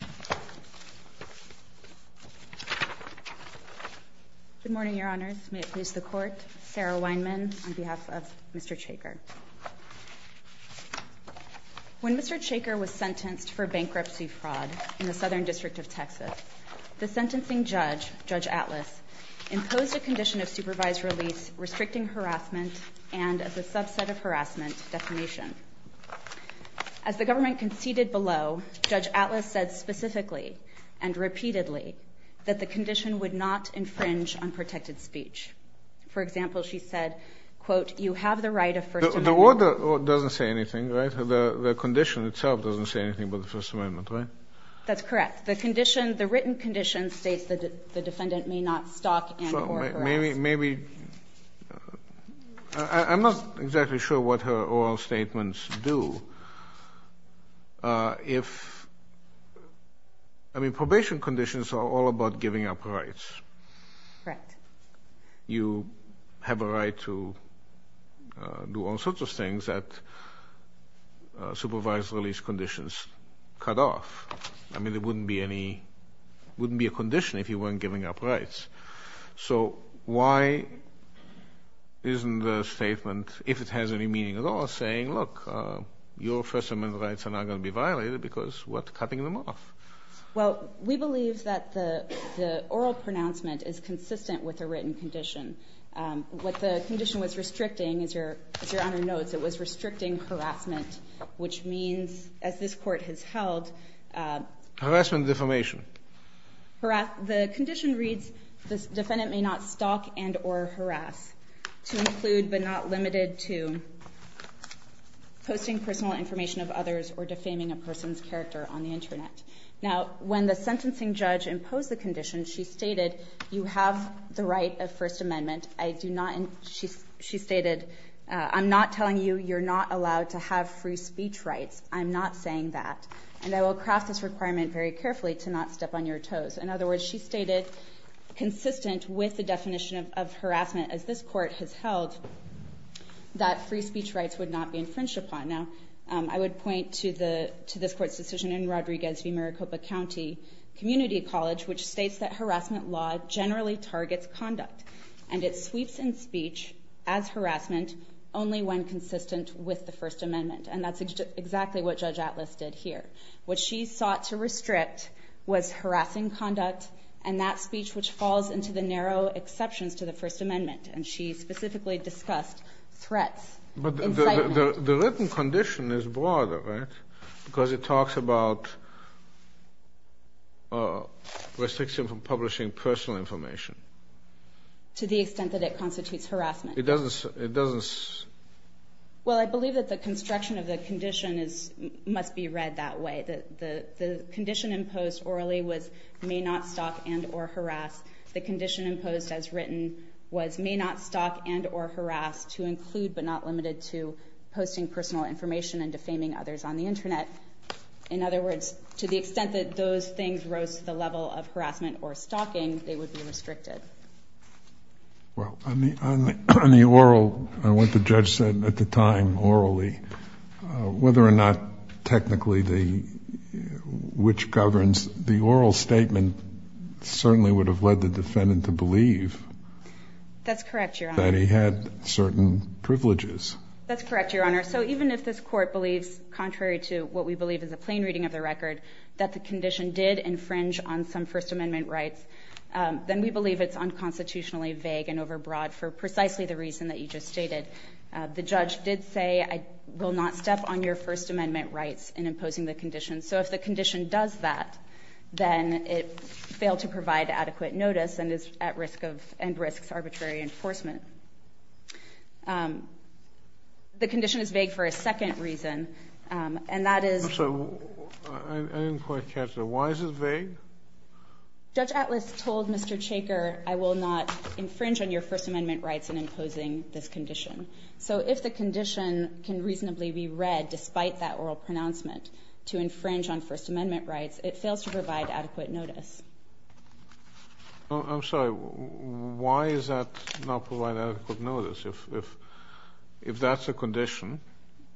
Good morning, Your Honors. May it please the Court, Sarah Weinman on behalf of Mr. Chaker. When Mr. Chaker was sentenced for bankruptcy fraud in the Southern District of Texas, the sentencing judge, Judge Atlas, imposed a condition of supervised release restricting harassment and as a subset of harassment, defamation. As the government conceded below, Judge Atlas said specifically and repeatedly that the condition would not infringe on protected speech. For example, she said, quote, you have the right of first amendment The order doesn't say anything, right? The condition itself doesn't say anything about the First Amendment, right? That's correct. The condition, the written condition states that the defendant may not stalk and coerce harassers. Maybe, maybe, I'm not exactly sure what her oral statements do. If, I mean, probation conditions are all about giving up rights. Correct. You have a right to do all sorts of things that supervised release conditions cut off. I mean, there wouldn't be any, wouldn't be a condition if you weren't giving up rights. So why isn't the statement, if it has any meaning at all, saying, look, your First Amendment rights are not going to be violated because we're cutting them off? Well, we believe that the oral pronouncement is consistent with a written condition. What the condition was restricting, as Your Honor notes, it was restricting harassment, which means, as this Court has held Harassment and defamation. The condition reads, the defendant may not stalk and or harass, to include but not limited to posting personal information of others or defaming a person's character on the Internet. Now, when the sentencing judge imposed the condition, she stated, you have the right of First Amendment. I do not, she stated, I'm not telling you you're not allowed to have free speech rights. I'm not saying that. And I will cross this requirement very carefully to not step on your toes. In other words, she stated, consistent with the definition of harassment, as this Court has held, that free speech rights would not be infringed upon. Now, I would point to this Court's decision in Rodriguez v. Maricopa County Community College, which states that harassment law generally targets conduct. And it sweeps in speech as harassment only when consistent with the First Amendment. And that's exactly what Judge Atlas did here. What she sought to restrict was harassing conduct and that speech which falls into the narrow exceptions to the First Amendment. And she specifically discussed threats, incitement. But the written condition is broader, right? Because it talks about restricting from publishing personal information. To the extent that it constitutes harassment. It doesn't, it doesn't. Well, I believe that the construction of the condition must be read that way. The condition imposed orally was may not stalk and or harass. The condition imposed as written was may not stalk and or harass to include but not limited to posting personal information and defaming others on the Internet. In other words, to the extent that those things rose to the level of harassment or stalking, they would be restricted. Well, I mean, on the oral and what the judge said at the time orally, whether or not technically the which governs the oral statement certainly would have led the defendant to believe. That's correct. You're already had certain privileges. That's correct, Your Honor. So even if this court believes contrary to what we believe is a plain reading of the record, that the condition did infringe on some First Amendment rights. Then we believe it's unconstitutionally vague and overbroad for precisely the reason that you just stated. The judge did say, I will not step on your First Amendment rights in imposing the condition. So if the condition does that, then it failed to provide adequate notice and is at risk of and risks arbitrary enforcement. The condition is vague for a second reason, and that is. So I didn't quite catch that. Why is it vague? Judge Atlas told Mr. Chaker, I will not infringe on your First Amendment rights in imposing this condition. So if the condition can reasonably be read despite that oral pronouncement to infringe on First Amendment rights, it fails to provide adequate notice. I'm sorry. Why is that not provide adequate notice? If that's a condition,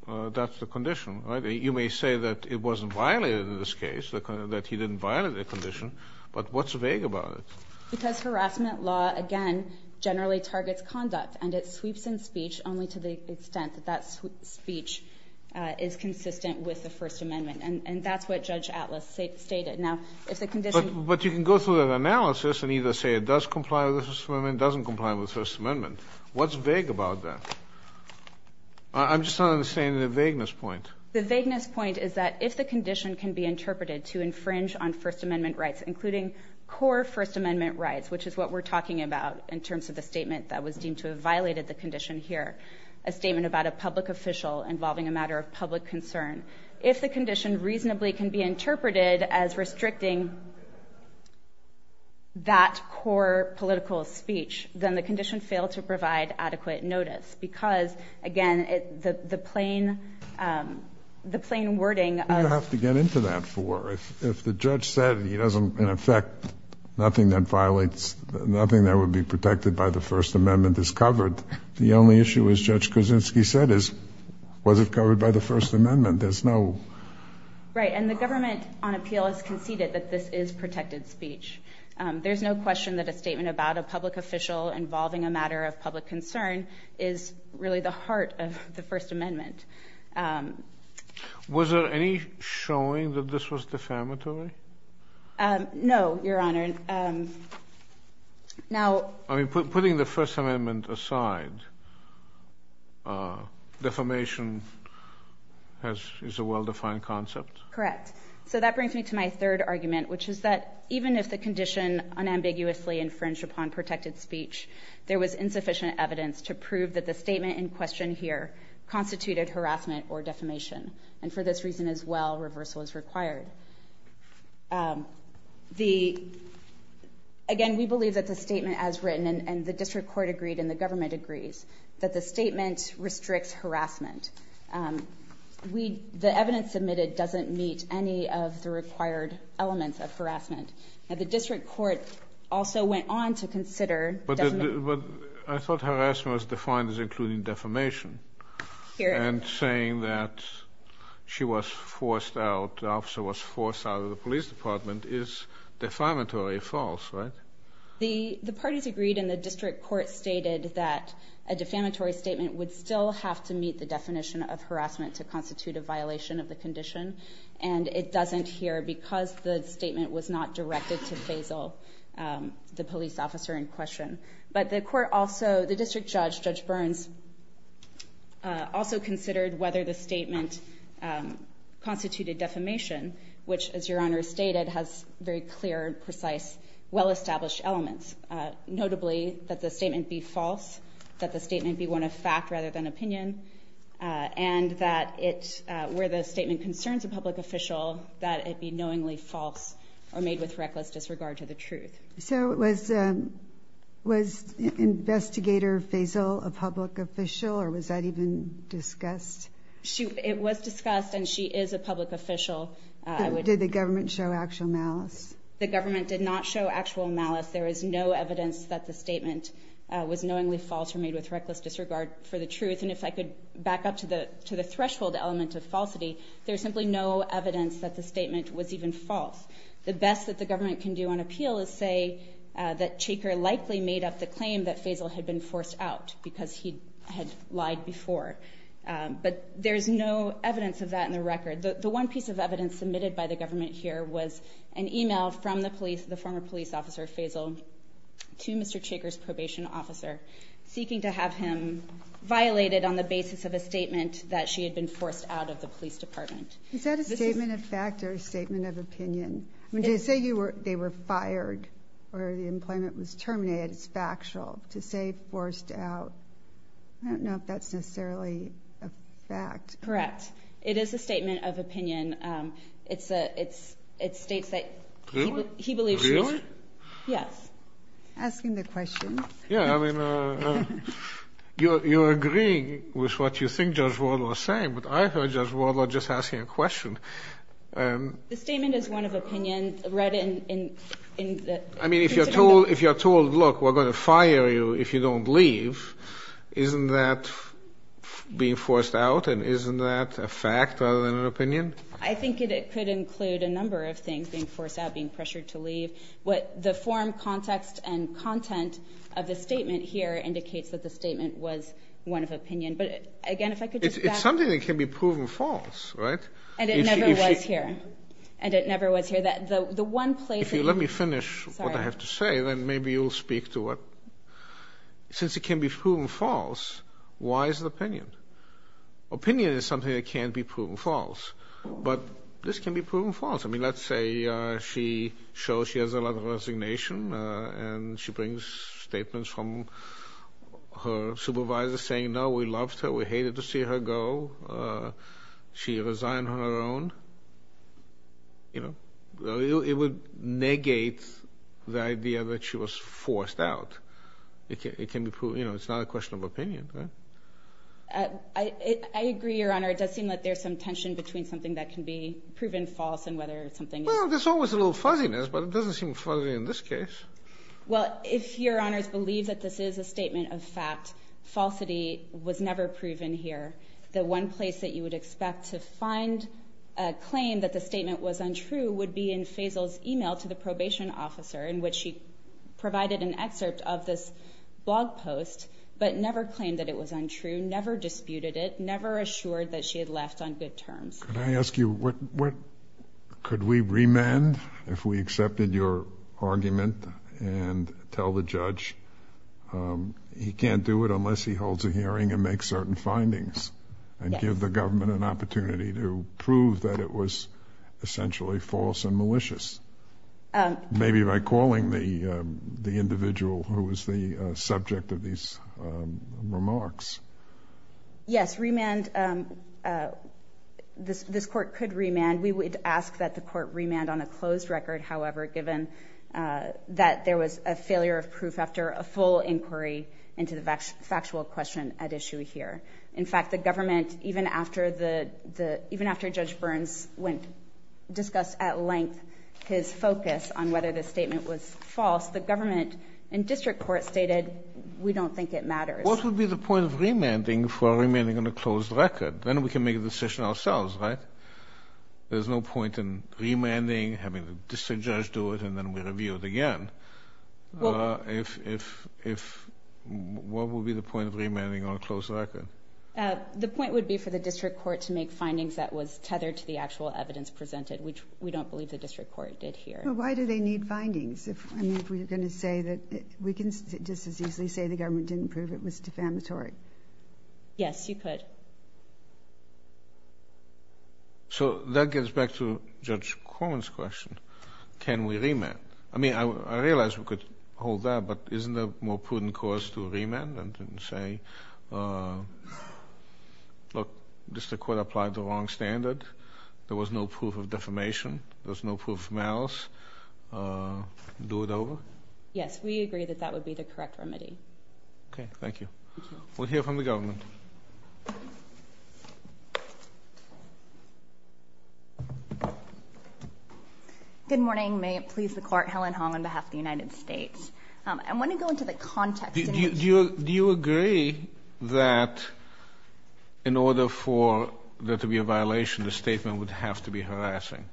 that's the condition, right? You may say that it wasn't violated in this case, that he didn't violate the condition. But what's vague about it? Because harassment law, again, generally targets conduct, and it sweeps in speech only to the extent that that speech is consistent with the First Amendment. And that's what Judge Atlas stated. Now, if the condition holds. But you can go through that analysis and either say it does comply with the First Amendment, doesn't comply with the First Amendment. What's vague about that? I'm just not understanding the vagueness point. The vagueness point is that if the condition can be interpreted to infringe on First Amendment rights, including core First Amendment rights, which is what we're talking about in terms of the statement that was deemed to have violated the condition here, a statement about a public official involving a matter of public concern. If the condition reasonably can be interpreted as restricting that core political speech, then the condition failed to provide adequate notice. Because, again, the plain wording of. You have to get into that for. If the judge said he doesn't, in effect, nothing that violates, nothing that would be protected by the First Amendment is covered, the only issue, as Judge Kuczynski said, is was it covered by the First Amendment? There's no. Right. And the government on appeal has conceded that this is protected speech. There's no question that a statement about a public official involving a matter of public concern is really the heart of the First Amendment. Was there any showing that this was defamatory? No, Your Honor. Now. I mean, putting the First Amendment aside, defamation is a well-defined concept? Correct. So that brings me to my third argument, which is that even if the condition unambiguously infringed upon protected speech, there was insufficient evidence to prove that the statement in question here constituted harassment or defamation. And for this reason as well, reversal is required. The – again, we believe that the statement as written, and the district court agreed we – the evidence submitted doesn't meet any of the required elements of harassment. Now, the district court also went on to consider defamation. But I thought harassment was defined as including defamation. Your Honor. And saying that she was forced out, the officer was forced out of the police department is defamatory or false, right? The parties agreed and the district court stated that a defamatory statement would still have to meet the definition of harassment to constitute a violation of the condition. And it doesn't here because the statement was not directed to Faisal, the police officer in question. But the court also – the district judge, Judge Burns, also considered whether the statement constituted defamation, which, as Your Honor stated, has very clear, precise, well-established elements, notably that the statement be false, that the statement be one of fact rather than opinion, and that it – where the statement concerns a public official, that it be knowingly false or made with reckless disregard to the truth. So was – was Investigator Faisal a public official or was that even discussed? She – it was discussed and she is a public official. Did the government show actual malice? The government did not show actual malice. There is no evidence that the statement was knowingly false or made with reckless disregard for the truth. And if I could back up to the – to the threshold element of falsity, there is simply no evidence that the statement was even false. The best that the government can do on appeal is say that Chaker likely made up the claim that Faisal had been forced out because he had lied before. But there is no evidence of that in the record. The one piece of evidence submitted by the government here was an email from the police officer Faisal to Mr. Chaker's probation officer seeking to have him violated on the basis of a statement that she had been forced out of the police department. Is that a statement of fact or a statement of opinion? I mean, to say you were – they were fired or the employment was terminated is factual. To say forced out, I don't know if that's necessarily a fact. Correct. It is a statement of opinion. It's a – it's – it states that – Really? Yes. Asking the question. Yeah. I mean, you're agreeing with what you think Judge Wadler is saying, but I heard Judge Wadler just asking a question. The statement is one of opinion read in the – I mean, if you're told – if you're told, look, we're going to fire you if you don't leave, isn't that being forced out and isn't that a fact rather than an opinion? I think it could include a number of things, being forced out, being pressured to leave. What the form, context, and content of the statement here indicates that the statement was one of opinion. But again, if I could just back up. It's something that can be proven false, right? And it never was here. And it never was here. The one place that – If you let me finish what I have to say, then maybe you'll speak to what – since it can be proven false, why is it opinion? Opinion is something that can be proven false. But this can be proven false. I mean, let's say she shows she has a lot of resignation and she brings statements from her supervisor saying, no, we loved her, we hated to see her go. She resigned on her own. It would negate the idea that she was forced out. It can be proven – it's not a question of opinion, right? I agree, Your Honor. It does seem like there's some tension between something that can be proven false and whether something – Well, there's always a little fuzziness, but it doesn't seem fuzzy in this case. Well, if Your Honors believe that this is a statement of fact, falsity was never proven here. The one place that you would expect to find a claim that the statement was untrue would be in Faisal's email to the probation officer in which he provided an excerpt of this blog post, but never claimed that it was untrue, never disputed it, never assured that she had left on good terms. Could I ask you, could we remand if we accepted your argument and tell the judge he can't do it unless he holds a hearing and makes certain findings and give the government an opportunity to prove that it was essentially false and malicious? Maybe by calling the individual who was the subject of these remarks. Yes, remand – this court could remand. We would ask that the court remand on a closed record, however, given that there was a failure of proof after a full inquiry into the factual question at issue here. In fact, the government, even after Judge Burns discussed at length his focus on whether the statement was false, the government and district court stated, we don't think it matters. What would be the point of remanding for remanding on a closed record? Then we can make a decision ourselves, right? There's no point in remanding, having the district judge do it, and then we review it again. What would be the point of remanding on a closed record? The point would be for the district court to make findings that was tethered to the actual evidence presented, which we don't believe the district court did here. Well, why do they need findings? I mean, if we're going to say that – we can just as easily say the government didn't prove it was defamatory. Yes, you could. So that gets back to Judge Corman's question. Can we remand? I mean, I realize we could hold that, but isn't there a more prudent cause to remand than to say, look, district court applied the wrong standard, there was no proof of defamation, there was no proof of malice, do it over? Yes, we agree that that would be the correct remedy. Okay, thank you. We'll hear from the government. Good morning. May it please the Court, Helen Hong on behalf of the United States. I want to go into the context. Do you agree that in order for there to be a violation, the statement would have to be harassing?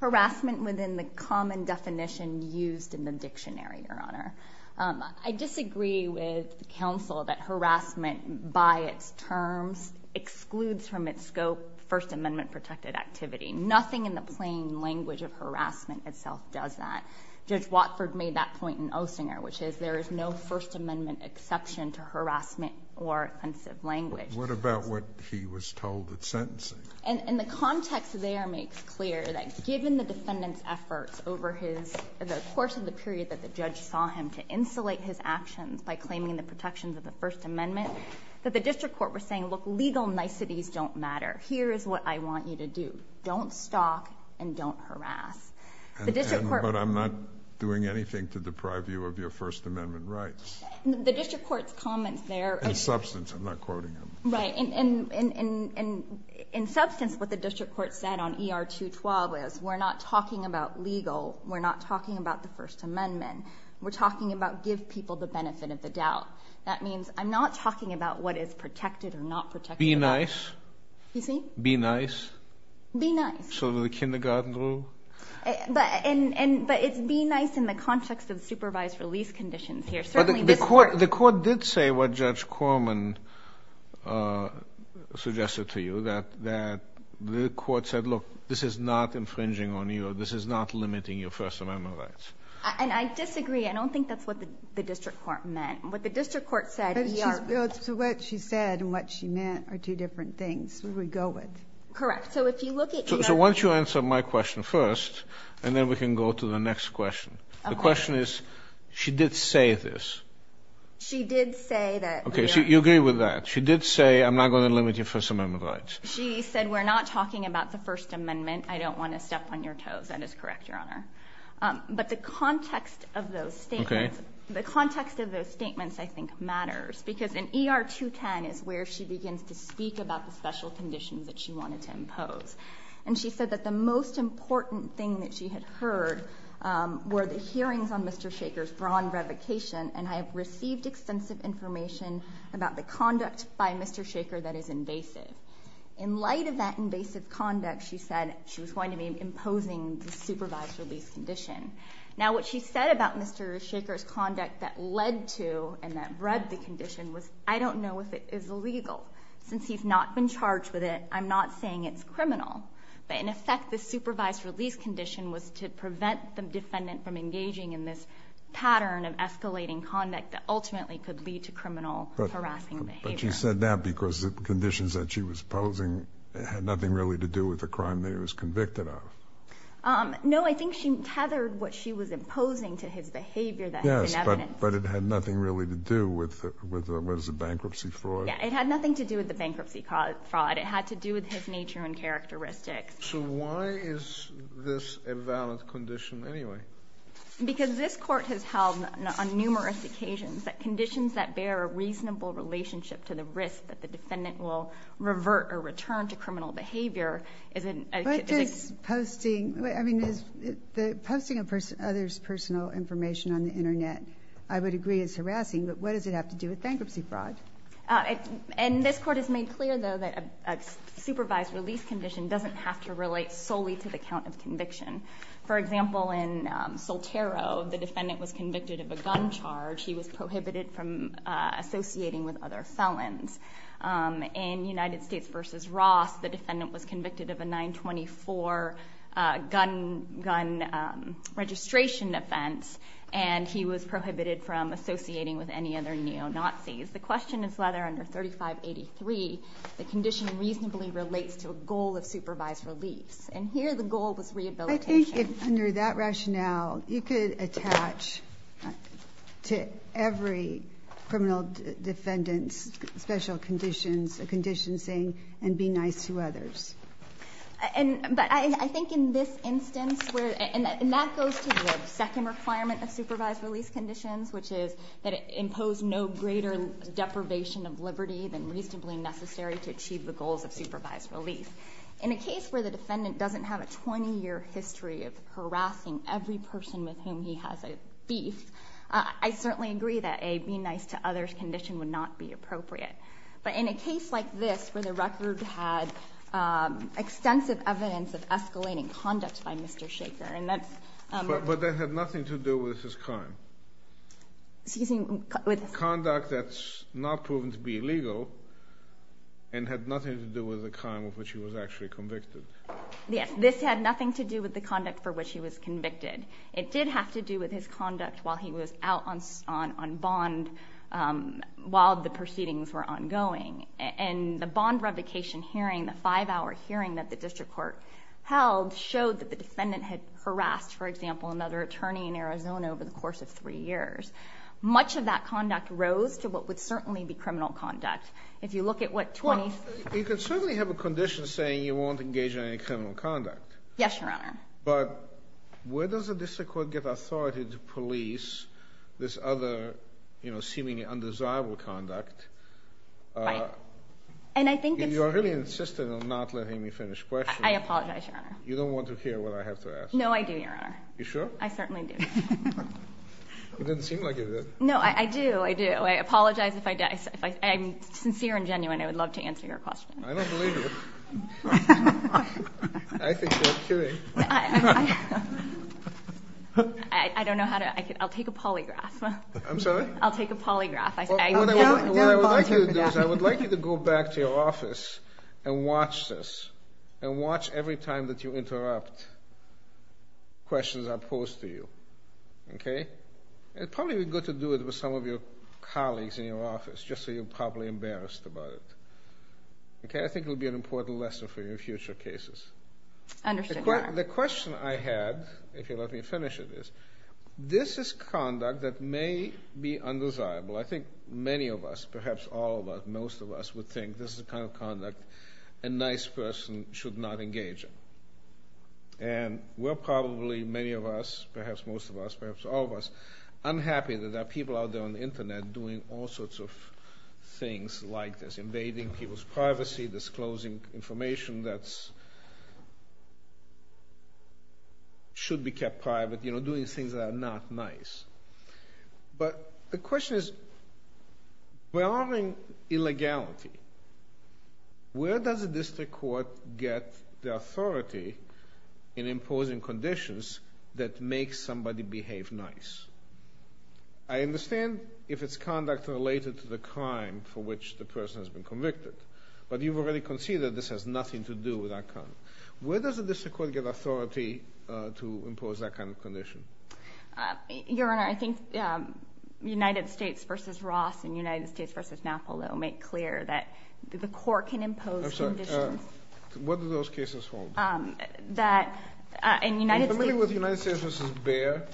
Harassment within the common definition used in the dictionary, Your Honor. I disagree with counsel that harassment by its terms excludes from its scope First Amendment-protected activity. Nothing in the plain language of harassment itself does that. Judge Watford made that point in Osinger, which is there is no First Amendment exception to harassment or offensive language. What about what he was told at sentencing? And the context there makes clear that given the defendant's efforts over his – the course of the period that the judge saw him to insulate his actions by claiming the protections of the First Amendment, that the district court was saying, look, legal niceties don't matter. Here is what I want you to do. Don't stalk and don't harass. The district court – But I'm not doing anything to deprive you of your First Amendment rights. The district court's comments there – In substance. I'm not quoting him. Right. In substance, what the district court said on ER-212 is we're not talking about legal. We're not talking about the First Amendment. We're talking about give people the benefit of the doubt. That means I'm not talking about what is protected or not protected. Be nice. Excuse me? Be nice. Be nice. So the kindergarten rule? But it's be nice in the context of supervised release conditions here. Certainly this court – But the court did say what Judge Corman suggested to you, that the court said, look, this is not infringing on you. This is not limiting your First Amendment rights. And I disagree. I don't think that's what the district court meant. What the district court said, ER – So what she said and what she meant are two different things. We would go with. Correct. So if you look at ER – So why don't you answer my question first, and then we can go to the next question. Okay. The question is, she did say this. She did say that – Okay. So you agree with that. She did say I'm not going to limit your First Amendment rights. She said we're not talking about the First Amendment. I don't want to step on your toes. That is correct, Your Honor. But the context of those statements – Okay. The context of those statements, I think, matters. Because in ER-210 is where she begins to speak about the special conditions that she wanted to impose. And she said that the most important thing that she had heard were the hearings on Mr. Shachar's brawn revocation, and I have received extensive information about the conduct by Mr. Shachar that is invasive. In light of that invasive conduct, she said she was going to be imposing the supervised release condition. Now, what she said about Mr. Shachar's conduct that led to and that bred the condition was, I don't know if it is illegal. Since he's not been charged with it, I'm not saying it's criminal. But in effect, the supervised release condition was to prevent the defendant from engaging in this pattern of escalating conduct that ultimately could lead to criminal harassing behavior. But she said that because the conditions that she was imposing had nothing really to do with the crime that he was convicted of. No, I think she tethered what she was imposing to his behavior that has been evidenced. Yes, but it had nothing really to do with the bankruptcy fraud. Yes, it had nothing to do with the bankruptcy fraud. It had to do with his nature and characteristics. So why is this a valid condition anyway? Because this Court has held on numerous occasions that conditions that bear a reasonable relationship to the risk that the defendant will revert or return to criminal behavior is a key. Posting others' personal information on the Internet I would agree is harassing, but what does it have to do with bankruptcy fraud? And this Court has made clear, though, that a supervised release condition doesn't have to relate solely to the count of conviction. For example, in Soltero, the defendant was convicted of a gun charge. He was prohibited from associating with other felons. In United States v. Ross, the defendant was convicted of a 924 gun registration offense, and he was prohibited from associating with any other neo-Nazis. The question is whether under 3583 the condition reasonably relates to a goal of supervised release. And here the goal was rehabilitation. I think under that rationale you could attach to every criminal defendant's special conditions a condition saying, and be nice to others. But I think in this instance, and that goes to the second requirement of supervised release conditions, which is that it imposed no greater deprivation of liberty than reasonably necessary to achieve the goals of supervised release. In a case where the defendant doesn't have a 20-year history of harassing every person with whom he has a beef, I certainly agree that a be nice to others condition would not be appropriate. But in a case like this, where the record had extensive evidence of escalating conduct by Mr. Shachar, and that's... But that had nothing to do with his crime. Excuse me? Conduct that's not proven to be illegal and had nothing to do with the crime of which he was actually convicted. Yes, this had nothing to do with the conduct for which he was convicted. It did have to do with his conduct while he was out on bond while the proceedings were ongoing. And the bond revocation hearing, the five-hour hearing that the district court held, showed that the defendant had harassed, for example, another attorney in Arizona over the course of three years. Much of that conduct rose to what would certainly be criminal conduct. If you look at what 20... Well, you can certainly have a condition saying you won't engage in any criminal conduct. Yes, Your Honor. But where does a district court get authority to police this other seemingly undesirable conduct? Right. And I think it's... You're really insistent on not letting me finish the question. I apologize, Your Honor. You don't want to hear what I have to ask. No, I do, Your Honor. You sure? I certainly do. It didn't seem like it did. No, I do. I do. I apologize if I did. I'm sincere and genuine. I would love to answer your question. I don't believe you. I think you're kidding. I don't know how to... I'll take a polygraph. I'm sorry? I'll take a polygraph. What I would like you to do is I would like you to go back to your office and watch this Okay? It's probably good to do it with some of your colleagues in your office just so you're properly embarrassed about it. Okay? I think it would be an important lesson for your future cases. Understood, Your Honor. The question I had, if you'll let me finish it, is this is conduct that may be undesirable. I think many of us, perhaps all of us, most of us, would think this is the kind of conduct a nice person should not engage in. And we're probably, many of us, perhaps most of us, perhaps all of us, unhappy that there are people out there on the Internet doing all sorts of things like this, invading people's privacy, disclosing information that should be kept private, you know, doing things that are not nice. But the question is, we're honoring illegality. Where does a district court get the authority in imposing conditions that make somebody behave nice? I understand if it's conduct related to the crime for which the person has been convicted. But you've already conceded this has nothing to do with that kind. Where does a district court get authority to impose that kind of condition? Your Honor, I think United States v. Ross and United States v. Napolo make clear that the court can impose conditions. I'm sorry, what do those cases hold? That in United States... Are you familiar with United States v. Bayer?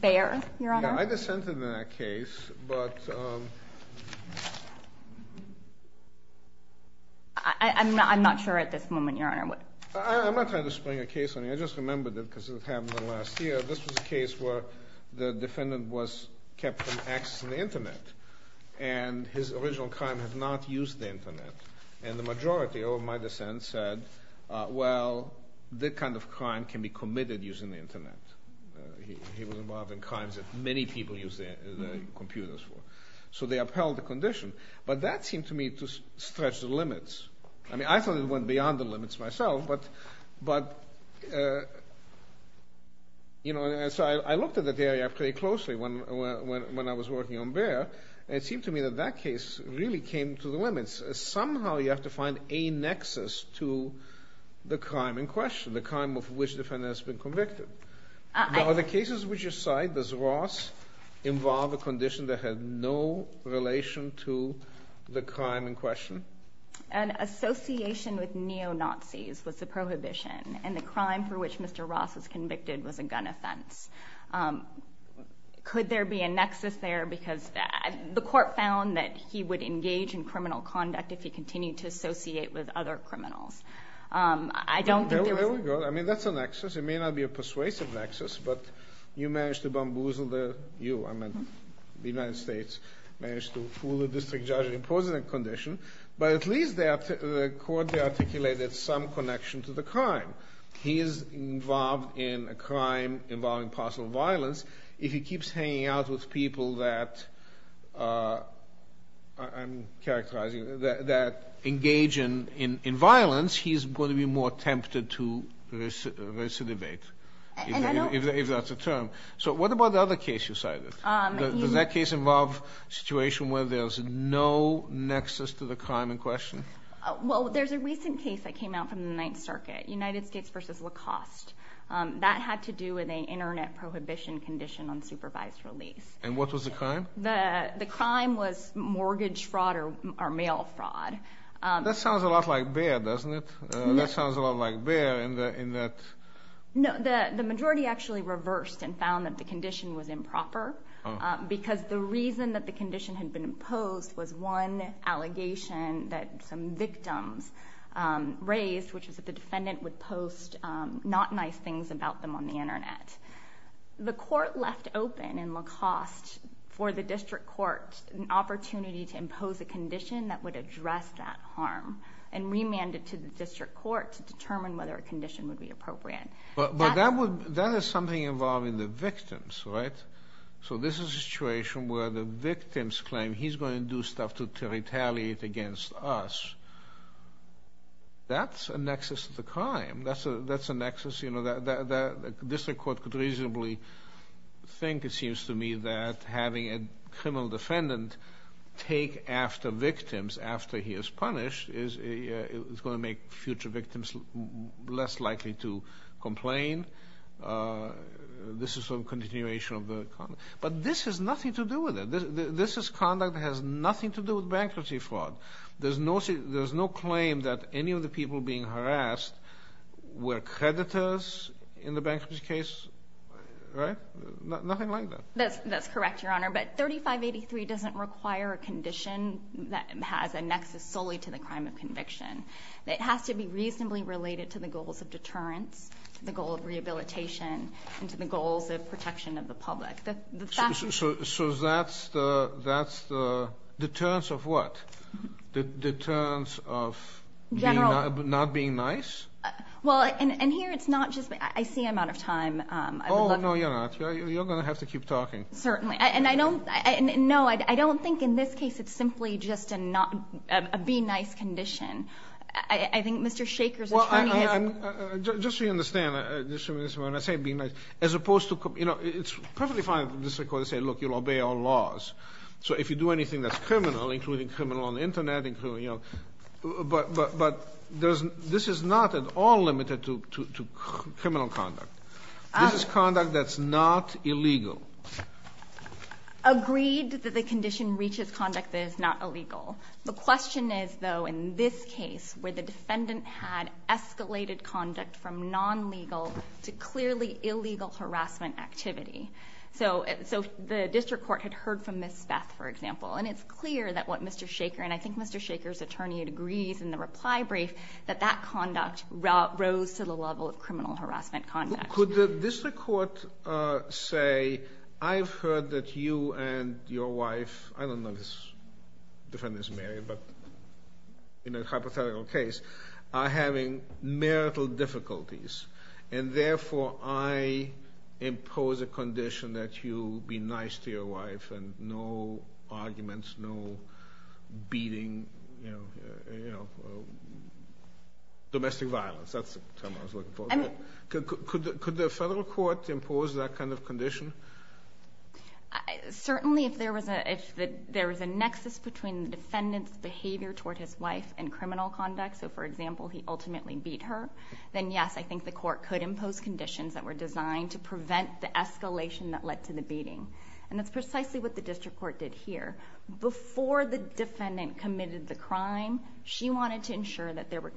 Bayer, Your Honor? Yeah, I dissented in that case, but... I'm not sure at this moment, Your Honor. I'm not trying to spring a case on you. I just remembered it because it happened in the last year. This was a case where the defendant was kept from accessing the Internet, and his original crime had not used the Internet. And the majority of my dissent said, well, that kind of crime can be committed using the Internet. He was involved in crimes that many people use their computers for. So they upheld the condition. But that seemed to me to stretch the limits. I mean, I thought it went beyond the limits myself, but... You know, and so I looked at that area pretty closely when I was working on Bayer, and it seemed to me that that case really came to the limits. Somehow you have to find a nexus to the crime in question, the crime of which the defendant has been convicted. Now, are the cases which you cite, does Ross involve a condition that had no relation to the crime in question? An association with neo-Nazis was the prohibition, and the crime for which Mr. Ross was convicted was a gun offense. Could there be a nexus there? Because the court found that he would engage in criminal conduct if he continued to associate with other criminals. I don't think there was... There we go. I mean, that's a nexus. It may not be a persuasive nexus, but you managed to bamboozle the U. The United States managed to fool the district judge and impose that condition, but at least the court articulated some connection to the crime. He is involved in a crime involving possible violence. If he keeps hanging out with people that I'm characterizing, that engage in violence, he's going to be more tempted to recidivate, if that's a term. So what about the other case you cited? Does that case involve a situation where there's no nexus to the crime in question? Well, there's a recent case that came out from the Ninth Circuit, United States v. Lacoste. That had to do with an Internet prohibition condition on supervised release. And what was the crime? The crime was mortgage fraud or mail fraud. That sounds a lot like Bayer, doesn't it? That sounds a lot like Bayer in that... The majority actually reversed and found that the condition was improper because the reason that the condition had been imposed was one allegation that some victims raised, which was that the defendant would post not nice things about them on the Internet. The court left open in Lacoste for the district court an opportunity to impose a condition that would address that harm and remanded to the district court to determine whether a condition would be appropriate. But that is something involving the victims, right? So this is a situation where the victims claim he's going to do stuff to retaliate against us. That's a nexus to the crime. That's a nexus that the district court could reasonably think, it seems to me, that having a criminal defendant take after victims after he is punished is going to make future victims less likely to complain. This is some continuation of the conduct. But this has nothing to do with it. This conduct has nothing to do with bankruptcy fraud. There's no claim that any of the people being harassed were creditors in the bankruptcy case, right? Nothing like that. That's correct, Your Honor. But 3583 doesn't require a condition that has a nexus solely to the crime of conviction. It has to be reasonably related to the goals of deterrence, the goal of rehabilitation, and to the goals of protection of the public. So that's the deterrence of what? The deterrence of not being nice? Well, and here it's not just me. I see I'm out of time. Oh, no, you're not. You're going to have to keep talking. Certainly. And I don't – no, I don't think in this case it's simply just a not – a be nice condition. I think Mr. Shaker's attorney has a – Well, just so you understand, Ms. Sherman, when I say be nice, as opposed to – you know, it's perfectly fine for the district court to say, look, you'll obey all laws. So if you do anything that's criminal, including criminal on the Internet, including, you know – but this is not at all limited to criminal conduct. This is conduct that's not illegal. Agreed that the condition reaches conduct that is not illegal. The question is, though, in this case, where the defendant had escalated conduct from non-legal to clearly illegal harassment activity. So the district court had heard from Ms. Speth, for example, and it's clear that what Mr. Shaker – and I think Mr. Shaker's attorney agrees in the reply brief that that conduct rose to the level of criminal harassment conduct. Could the district court say, I've heard that you and your wife – I don't know if this defendant is married, but in a hypothetical case – are having marital difficulties, and therefore I impose a condition that you be nice to your wife and no arguments, no beating, you know, domestic violence. That's the term I was looking for. Could the federal court impose that kind of condition? Certainly, if there was a – if there was a nexus between the defendant's behavior toward his wife and criminal conduct – so, for example, he ultimately beat her – then, yes, I think the court could impose conditions that were designed to prevent the escalation that led to the beating. And that's precisely what the district court did here. Before the defendant committed the crime, she wanted to ensure that there were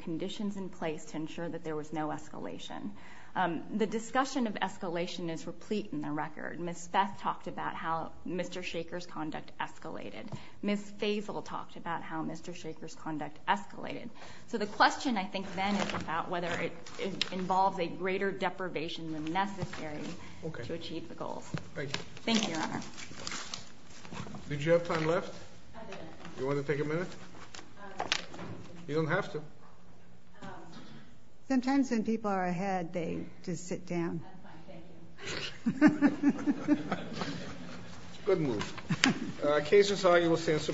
The discussion of escalation is replete in the record. Ms. Feth talked about how Mr. Shaker's conduct escalated. Ms. Faisal talked about how Mr. Shaker's conduct escalated. So the question, I think, then is about whether it involves a greater deprivation than necessary to achieve the goals. Thank you. Thank you, Your Honor. Did you have time left? I did. Do you want to take a minute? You don't have to. Sometimes when people are ahead, they just sit down. That's fine. Thank you. Good move. The case is argued. We'll stand for minutes.